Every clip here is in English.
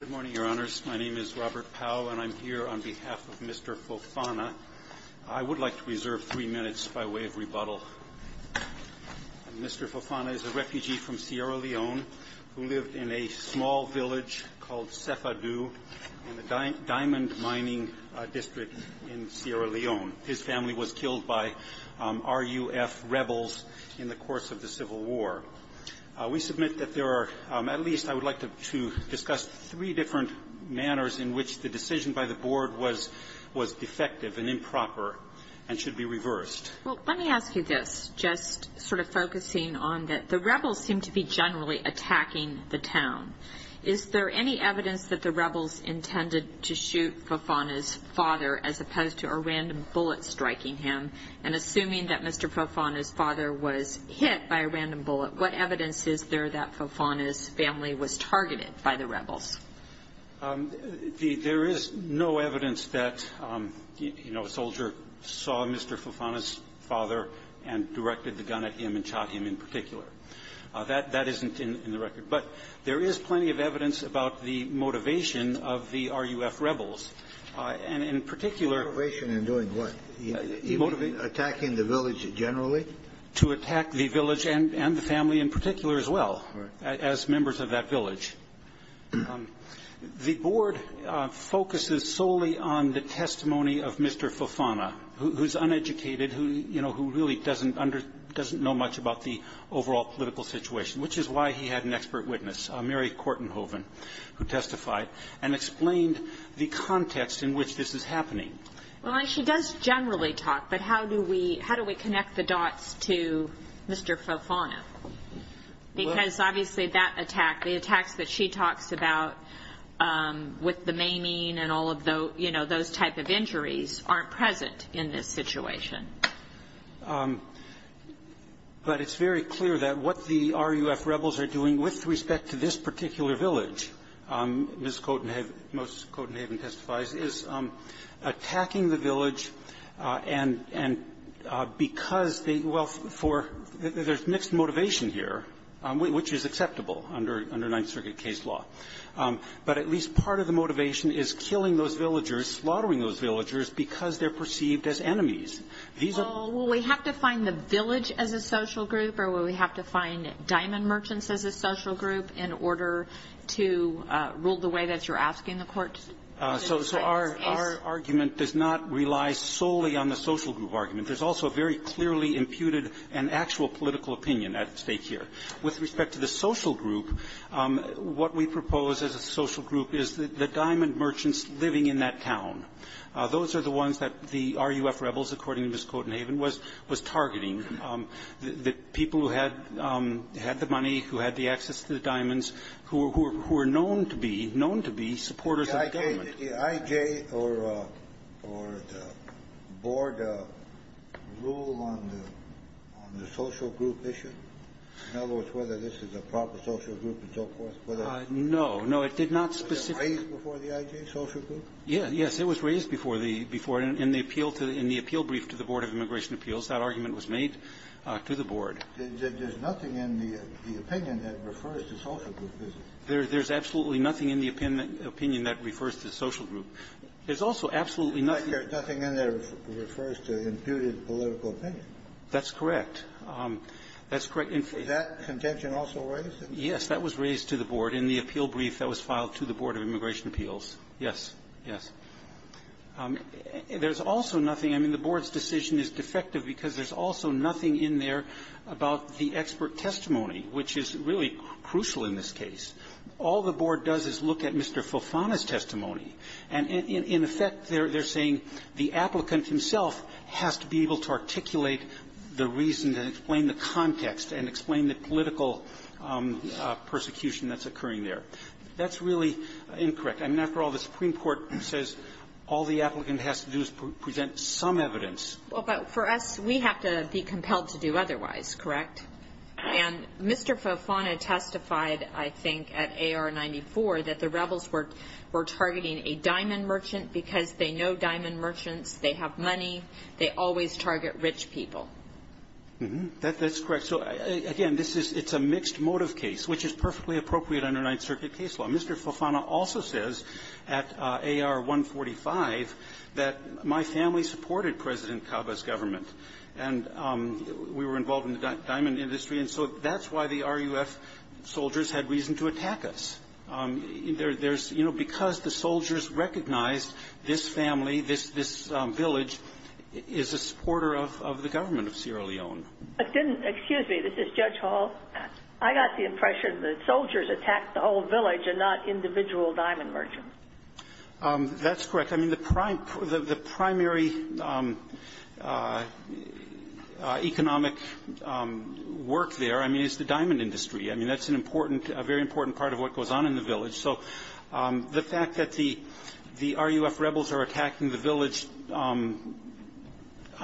Good morning, Your Honors. My name is Robert Powell, and I'm here on behalf of Mr. Fofana. I would like to reserve three minutes by way of rebuttal. Mr. Fofana is a refugee from Sierra Leone who lived in a small village called Cefadu in the diamond mining district in Sierra Leone. His family was killed by RUF rebels in the course of the Civil War. We submit that there are, at least I would like to discuss three different manners in which the decision by the Board was defective and improper and should be reversed. Well, let me ask you this, just sort of focusing on that the rebels seem to be generally attacking the town. Is there any evidence that the rebels intended to shoot Fofana's father as opposed to random bullets striking him? And assuming that Mr. Fofana's father was hit by a random bullet, what evidence is there that Fofana's family was targeted by the rebels? There is no evidence that a soldier saw Mr. Fofana's father and directed the gun at him and shot him in particular. That isn't in the record. But there is plenty of evidence about the motivation of the RUF rebels. And in particular Motivation in doing what? Attacking the village generally? To attack the village and the family in particular as well, as members of that village. The Board focuses solely on the testimony of Mr. Fofana, who's uneducated, who, you know, who really doesn't know much about the overall political situation, which is why he had an opportunity to testify, and explained the context in which this is happening. Well, and she does generally talk, but how do we connect the dots to Mr. Fofana? Because obviously that attack, the attacks that she talks about with the maiming and all of those, you know, those type of injuries aren't present in this situation. But it's very clear that what the RUF rebels are doing with respect to this particular village, Ms. Coten-Haven, Ms. Coten-Haven testifies, is attacking the village and because they, well, for, there's mixed motivation here, which is acceptable under Ninth Circuit case law. But at least part of the motivation is killing those villagers, slaughtering those villagers, because they're perceived as enemies. These are the groups that are attacking the village. Well, will we have to find the village as a social group, or will we have to find the diamond merchants as a social group in order to rule the way that you're asking the court to do in this case? So our argument does not rely solely on the social group argument. There's also a very clearly imputed and actual political opinion at stake here. With respect to the social group, what we propose as a social group is the diamond merchants living in that town. Those are the ones that the RUF rebels, according to Ms. Coten-Haven, was targeting, the people who had the money, who had the access to the diamonds, who are known to be, known to be supporters of the government. Did the I.J. or the Board rule on the social group issue? In other words, whether this is a proper social group and so forth, whether it's raised before the I.J. social group? Yes. Yes. It was raised before the, before, in the appeal to, in the appeal brief to the Board of Immigration Appeals. That argument was made to the Board. There's nothing in the opinion that refers to social group business. There's absolutely nothing in the opinion that refers to social group. There's also absolutely nothing that refers to imputed political opinion. That's correct. That's correct. Was that contention also raised? Yes. That was raised to the Board in the appeal brief that was filed to the Board of Immigration Appeals. Yes. Yes. There's also nothing. I mean, the Board's decision is defective because there's also nothing in there about the expert testimony, which is really crucial in this case. All the Board does is look at Mr. Fofana's testimony. And in effect, they're saying the applicant himself has to be able to articulate the reason and explain the context and explain the political persecution that's occurring there. That's really incorrect. I mean, after all, the Supreme Court says all the applicant has to do is present some evidence. Well, but for us, we have to be compelled to do otherwise, correct? And Mr. Fofana testified, I think, at AR-94 that the rebels were targeting a diamond merchant because they know diamond merchants, they have money, they always target rich people. That's correct. So, again, this is — it's a mixed motive case, which is perfectly appropriate under Ninth Circuit case law. Mr. Fofana also says at AR-145 that my family supported President Cabe's government. And we were involved in the diamond industry. And so that's why the RUF soldiers had reason to attack us. There's — you know, because the soldiers recognized this family, this village is a supporter of the government of Sierra Leone. I didn't — excuse me. This is Judge Hall. I got the impression that soldiers attacked the whole village and not individual diamond merchants. That's correct. I mean, the primary economic work there, I mean, is the diamond industry. I mean, that's an important — a very important part of what goes on in the village. So the fact that the RUF rebels are attacking the village on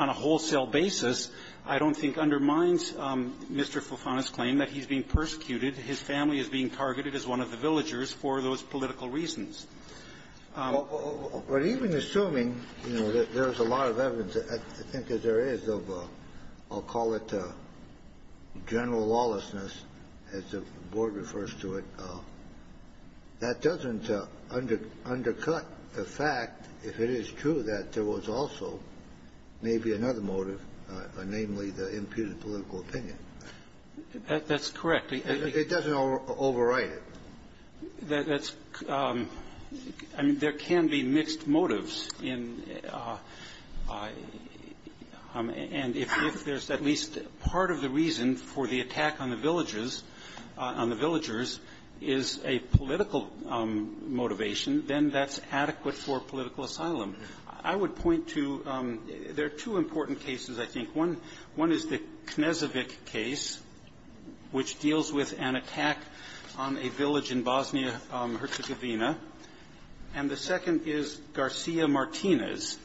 a wholesale basis I don't think undermines Mr. Fofana's claim that he's being persecuted. His family is being targeted as one of the villagers for those political reasons. But even assuming, you know, there's a lot of evidence, I think that there is of a — I'll call it general lawlessness, as the Board refers to it. That doesn't undercut the fact, if it is true, that there was also maybe another motive, namely the imputed political opinion. That's correct. It doesn't overwrite it. That's — I mean, there can be mixed motives in — and if there's at least part of the reason for the attack on the villagers — on the villagers is a political motivation, then that's adequate for political asylum. I would point to — there are two important cases, I think. One is the Knezevic case, which deals with an attack on a village in Bosnia-Herzegovina. And the second is Garcia Martinez,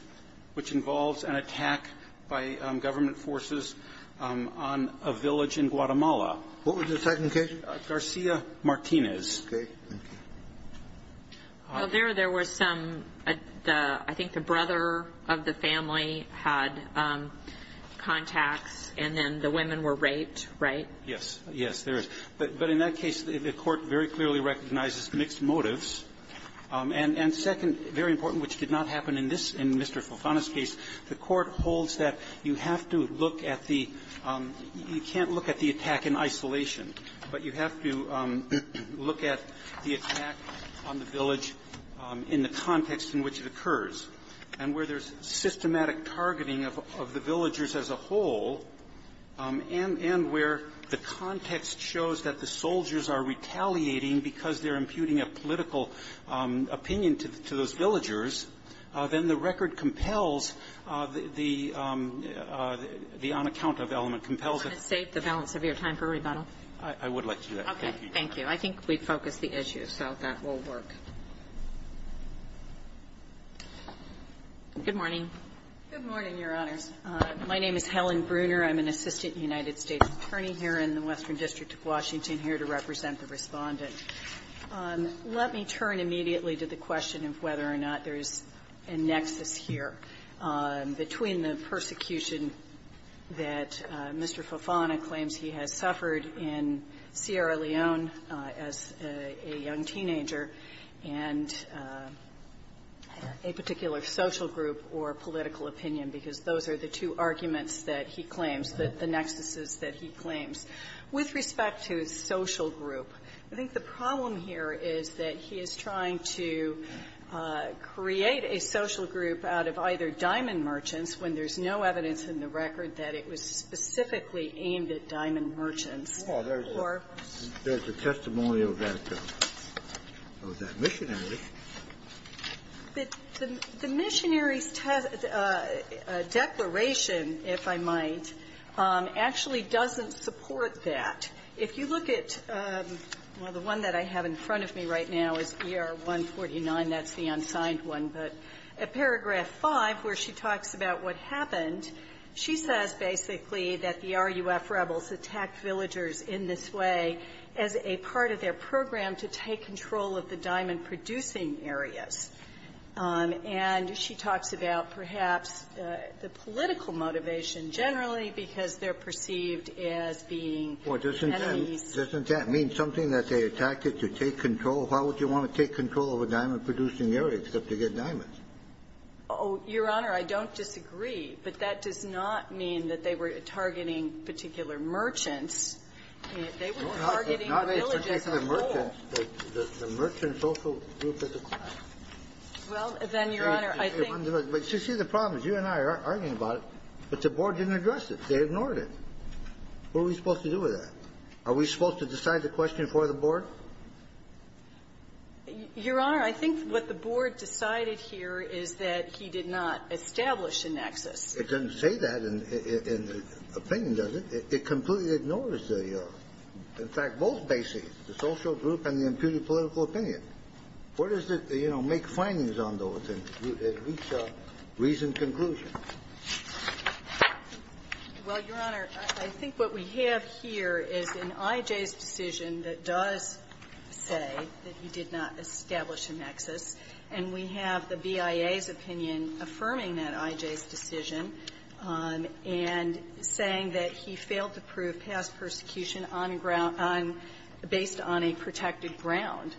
which involves an attack by government forces on a village in Guatemala. What was the second case? Garcia Martinez. Okay. Thank you. Well, there — there were some — I think the brother of the family had contacts, and then the women were raped, right? Yes. Yes, there is. But in that case, the Court very clearly recognizes mixed motives. And second, very important, which did not happen in this — in Mr. Fofana's case, the Court holds that you have to look at the — you can't look at the attack in isolation, but you have to look at the attack on the village in the context in which it occurs. And where there's systematic targeting of — of the villagers as a whole, and — and where the context shows that the soldiers are retaliating because they're imputing a political opinion to those villagers, then the record compels the — the on-account-of element compels it. Can I save the balance of your time for rebuttal? I would like to do that. Thank you. Okay. Thank you. I think we've focused the issue, so that will work. Good morning. Good morning, Your Honors. My name is Helen Bruner. I'm an assistant United States attorney here in the Western District of Washington here to represent the Respondent. Let me turn immediately to the question of whether or not there's a nexus here. Between the persecution that Mr. Fofana claims he has suffered in Sierra Leone as a young teenager and a particular social group or political opinion, because those are the two arguments that he claims, the nexuses that he claims. With respect to a social group, I think the problem here is that he is trying to create a social group out of either Diamond Merchants, when there's no evidence in the record that it was specifically aimed at Diamond Merchants, or — Well, there's a testimony of that missionary. The missionary's declaration, if I might, actually doesn't support that. If you look at — well, the one that I have in front of me right now is ER-149. That's the unsigned one. But at paragraph 5, where she talks about what happened, she says basically that the RUF rebels attacked villagers in this way as a part of their program to take control of the diamond-producing areas. And she talks about perhaps the political motivation generally, because they're perceived as being enemies. Well, doesn't that mean something, that they attacked it to take control? Why would you want to take control of a diamond-producing area, except to get diamonds? Oh, Your Honor, I don't disagree. But that does not mean that they were targeting particular merchants. They were targeting the villagers as a whole. No, not a particular merchant, but the merchant social group at the time. Well, then, Your Honor, I think the problem is you and I are arguing about it, but the board didn't address it. They ignored it. What are we supposed to do with that? Are we supposed to decide the question for the board? Your Honor, I think what the board decided here is that he did not establish a nexus. It doesn't say that in the opinion, does it? It completely ignores the, in fact, both bases, the social group and the imputed political opinion. Where does it, you know, make findings on those and reach a reasoned conclusion? Well, Your Honor, I think what we have here is an IJ's decision that does say that he did not establish a nexus, and we have the BIA's opinion affirming that IJ's decision and saying that he failed to prove past persecution on ground – based on a protected ground.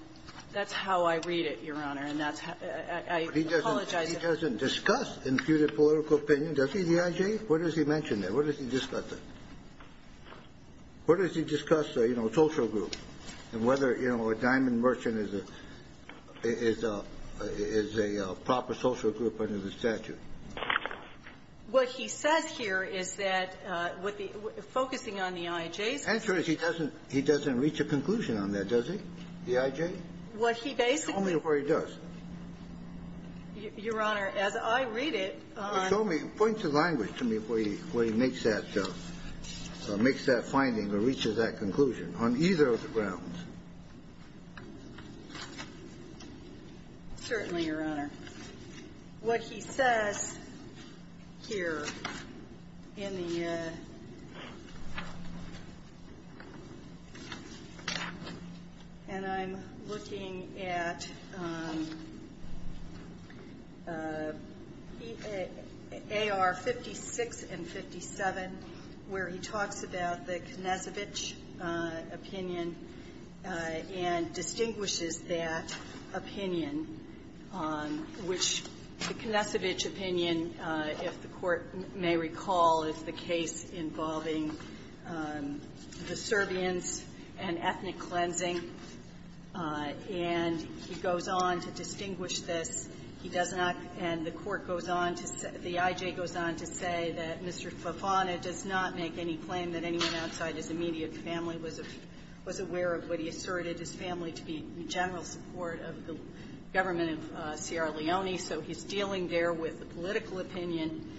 That's how I read it, Your Honor, and that's how – I apologize if I'm wrong. But he doesn't discuss imputed political opinion, does he, the IJ? What does he mention there? What does he discuss there? What does he discuss, you know, social group and whether, you know, a diamond merchant is a proper social group under the statute? What he says here is that what the – focusing on the IJ's opinion – The answer is he doesn't reach a conclusion on that, does he, the IJ? What he basically – Tell me what he does. Your Honor, as I read it on – Show me – point to language to me where he makes that – makes that finding or reaches that conclusion on either of the grounds. Certainly, Your Honor. What he says here in the – and I'm looking at AR 56 and 57 where he talks about the Konecevich opinion and distinguishes that opinion, which the Konecevich opinion, if the Court may recall, is the case involving the Serbians and ethnic cleansing. And he goes on to distinguish this. He does not – and the Court goes on to – the IJ goes on to say that Mr. Favana does not make any claim that anyone outside his immediate family was aware of what he asserted his family to be in general support of the government of Sierra Leone. So he's dealing there with the political opinion,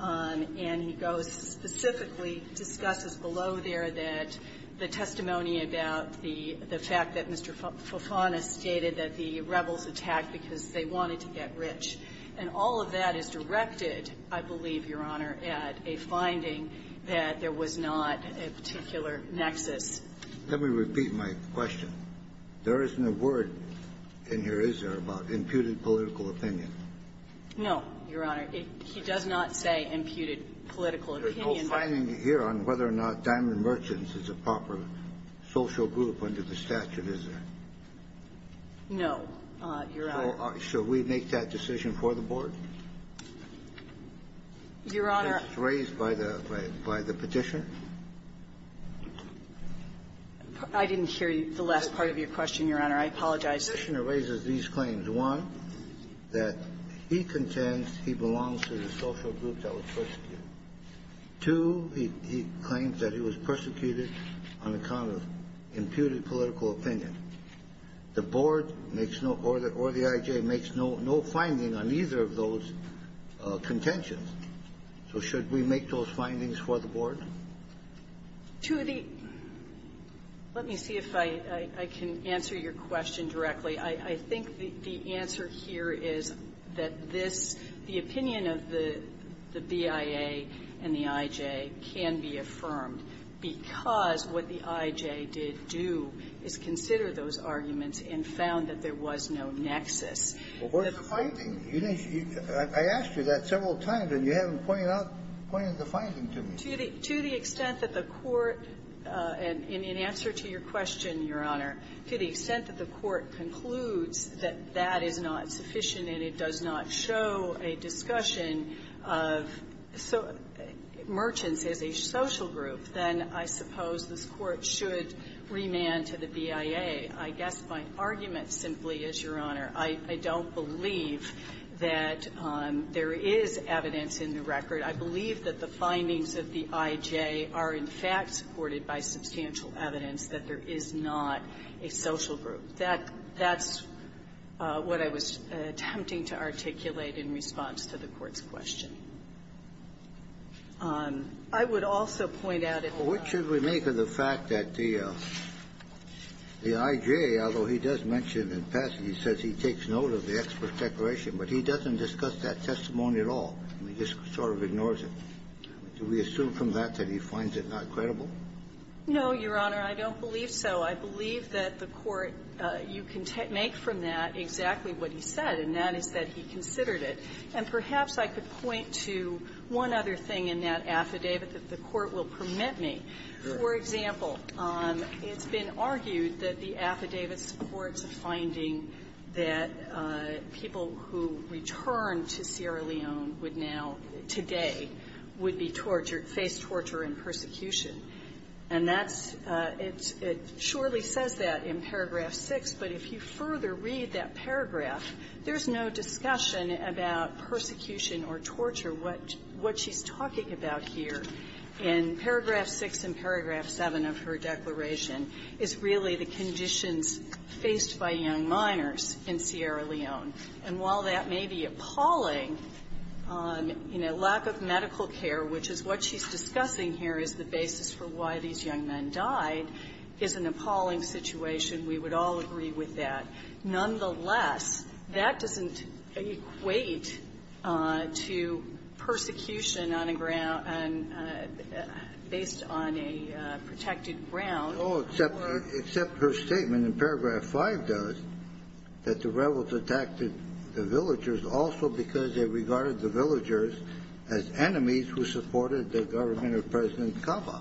and he goes – specifically discusses below there that the testimony about the fact that Mr. Favana stated that the rebels attacked because they wanted to get rich. And all of that is directed, I believe, Your Honor, at a finding that there was not a particular nexus. Let me repeat my question. There isn't a word in here, is there, about imputed political opinion? No, Your Honor. He does not say imputed political opinion. There's no finding here on whether or not Diamond Merchants is a proper social group under the statute, is there? No, Your Honor. So should we make that decision for the Board? Your Honor – Raised by the – by the Petitioner? I didn't hear the last part of your question, Your Honor. I apologize. The Petitioner raises these claims. One, that he contends he belongs to the social group that was persecuted. Two, he claims that he was persecuted on account of imputed political opinion. The Board makes no – or the I.J. makes no finding on either of those contentions. So should we make those findings for the Board? To the – let me see if I can answer your question directly. I think the answer here is that this – the opinion of the BIA and the I.J. can be and found that there was no nexus. Well, where's the finding? You didn't – I asked you that several times, and you haven't pointed out – pointed the finding to me. To the – to the extent that the Court, in answer to your question, Your Honor, to the extent that the Court concludes that that is not sufficient and it does not show a discussion of merchants as a social group, then I suppose this Court should remand to the BIA. I guess my argument simply is, Your Honor, I don't believe that there is evidence in the record. I believe that the findings of the I.J. are, in fact, supported by substantial evidence that there is not a social group. That's what I was attempting to articulate in response to the Court's question. I would also point out that the – Well, what should we make of the fact that the I.J., although he does mention in passing, he says he takes note of the expert declaration, but he doesn't discuss that testimony at all. He just sort of ignores it. Do we assume from that that he finds it not credible? No, Your Honor, I don't believe so. I believe that the Court – you can make from that exactly what he said, and that is that he considered it. And perhaps I could point to one other thing in that affidavit that the Court will permit me. For example, it's been argued that the affidavit supports a finding that people who return to Sierra Leone would now, today, would be tortured, face torture and persecution. And that's – it surely says that in paragraph 6, but if you further read that paragraph, there's no discussion about persecution or torture. What – what she's talking about here in paragraph 6 and paragraph 7 of her declaration is really the conditions faced by young minors in Sierra Leone. And while that may be appalling, you know, lack of medical care, which is what she's discussing here as the basis for why these young men died, is an appalling situation. We would all agree with that. Nonetheless, that doesn't equate to persecution on a ground – based on a protected ground. No, except – except her statement in paragraph 5 does, that the rebels attacked the villagers also because they regarded the villagers as enemies who supported the government of President Cava.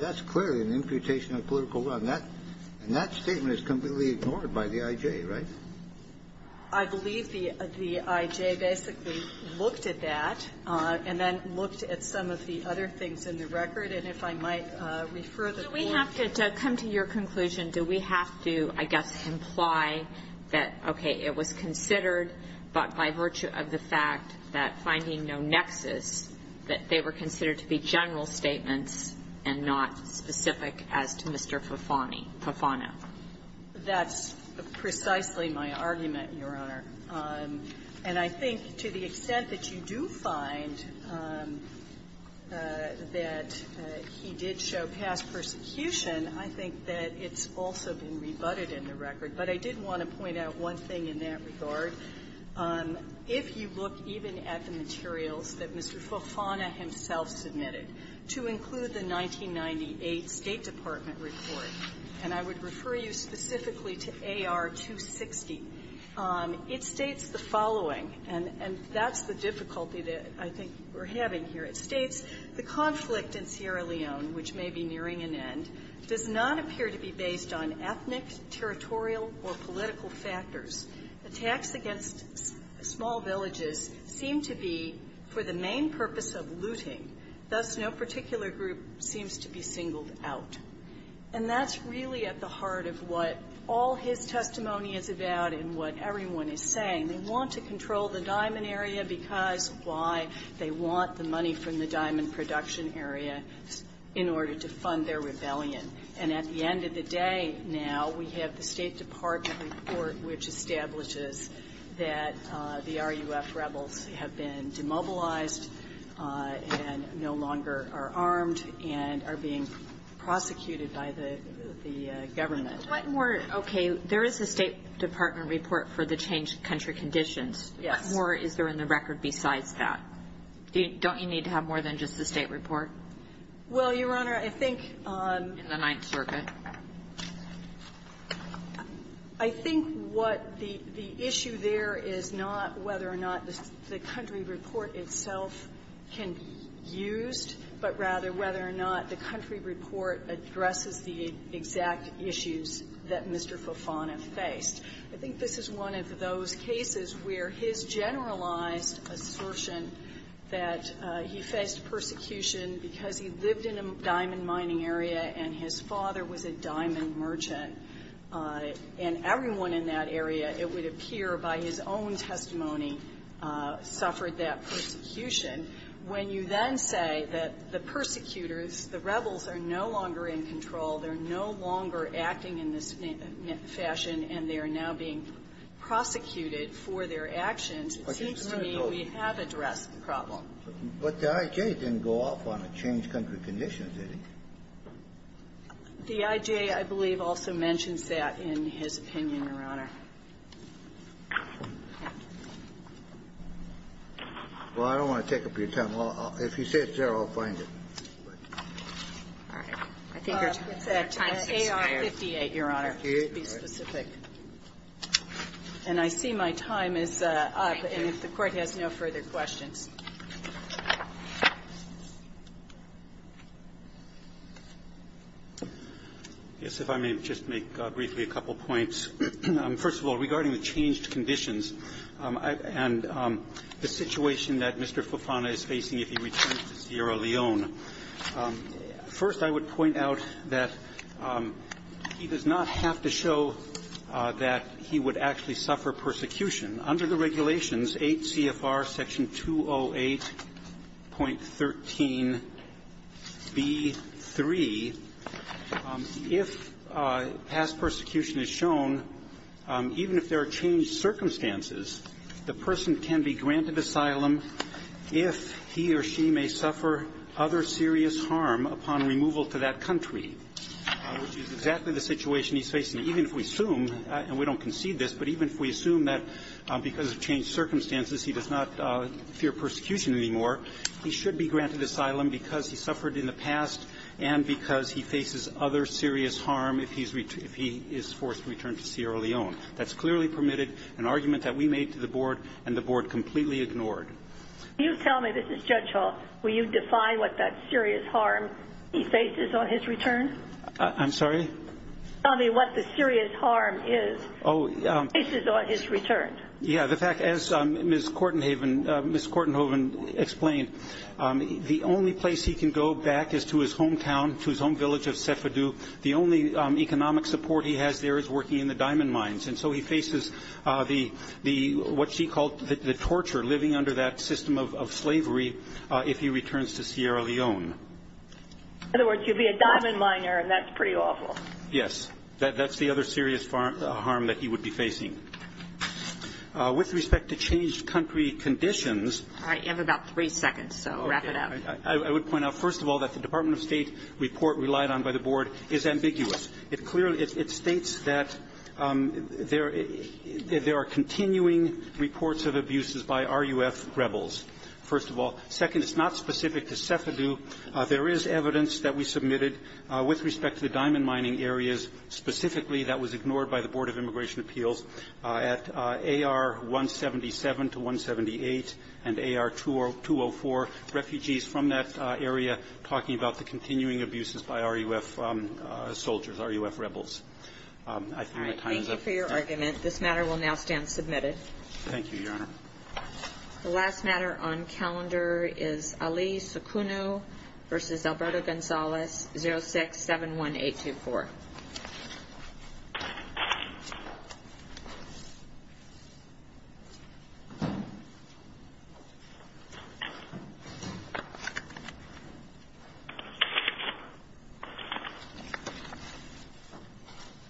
That's clearly an imputation of political will. And that – and that statement is completely ignored by the I.J., right? I believe the – the I.J. basically looked at that and then looked at some of the other things in the record. And if I might refer the board here. Do we have to – to come to your conclusion, do we have to, I guess, imply that, okay, it was considered, but by virtue of the fact that finding no nexus, that they were considered to be general statements and not specific as to Mr. Fufani – Fufano? That's precisely my argument, Your Honor. And I think to the extent that you do find that he did show past persecution, I think that it's also been rebutted in the record. But I did want to point out one thing in that regard. If you look even at the materials that Mr. Fufani himself submitted to include the 1998 State Department report, and I would refer you specifically to AR-260, it states the following, and that's the difficulty that I think we're having here. It states, The conflict in Sierra Leone, which may be nearing an end, does not appear to be based on ethnic, territorial, or political factors. Attacks against small villages seem to be for the main purpose of looting. Thus, no particular group seems to be singled out. And that's really at the heart of what all his testimony is about and what everyone is saying. They want to control the diamond area because why? They want the money from the diamond production area in order to fund their rebellion. And at the end of the day now, we have the State Department report which establishes that the RUF rebels have been demobilized and no longer are armed and are being prosecuted by the government. What more? Okay. There is a State Department report for the changed country conditions. Yes. What more is there in the record besides that? Don't you need to have more than just the State report? Well, Your Honor, I think on the Ninth Circuit, I think what the issue there is not whether or not the country report itself can be used, but rather whether or not the country report addresses the exact issues that Mr. Fofana faced. I think this is one of those cases where his generalized assertion that he faced persecution because he lived in a diamond mining area and his father was a diamond merchant and everyone in that area, it would appear by his own testimony, suffered that persecution. When you then say that the persecutors, the rebels, are no longer in control, they're no longer acting in this fashion, and they are now being prosecuted for their actions, it seems to me we have addressed the problem. But the I.J. didn't go off on a changed country condition, did he? The I.J., I believe, also mentions that in his opinion, Your Honor. Well, I don't want to take up your time. If you say it's there, I'll find it. It's AR-58, Your Honor, to be specific. And I see my time is up. And if the Court has no further questions. I guess if I may just make briefly a couple of points. First of all, regarding the changed conditions and the situation that Mr. Fofana is facing if he returns to Sierra Leone, first, I would point out that he does not have to show that he would actually suffer persecution. Under the regulations, 8 CFR Section 208.13b3, if past persecution is shown, even if there are changed circumstances, the person can be granted asylum if he or she may suffer other serious harm upon removal to that country, which is exactly the situation he's facing, even if we assume, and we don't concede this, but even if we assume that because of changed circumstances, he does not fear persecution anymore, he should be granted asylum because he suffered in the past and because he faces other serious harm if he is forced to return to Sierra Leone. That's clearly permitted, an argument that we made to the Board, and the Board completely ignored. Can you tell me, Mr. Judge Hall, will you define what that serious harm he faces on his return? I'm sorry? Tell me what the serious harm is he faces on his return. Yeah. The fact, as Ms. Kortenhoven explained, the only place he can go back is to his hometown, to his home village of Sefidu. The only economic support he has there is working in the diamond mines, and so he faces the, what she called the torture, living under that system of slavery if he returns to Sierra Leone. In other words, you'd be a diamond miner, and that's pretty awful. Yes. That's the other serious harm that he would be facing. With respect to changed country conditions... All right. You have about three seconds, so wrap it up. I would point out, first of all, that the Department of State report relied on by the Board is ambiguous. It clearly, it states that there are continuing reports of abuses by RUF rebels, first of all. Second, it's not specific to Sefidu. There is evidence that we submitted with respect to the diamond mining areas specifically that was ignored by the Board of Immigration Appeals at AR-177 to 178 and AR-204, refugees from that area talking about the continuing abuses by RUF soldiers, RUF rebels. I think my time is up. All right. Thank you for your argument. This matter will now stand submitted. Thank you, Your Honor. The last matter on calendar is Ali Sukunu v. Alberto Gonzalez, 06-71824. Thank you, Your Honor.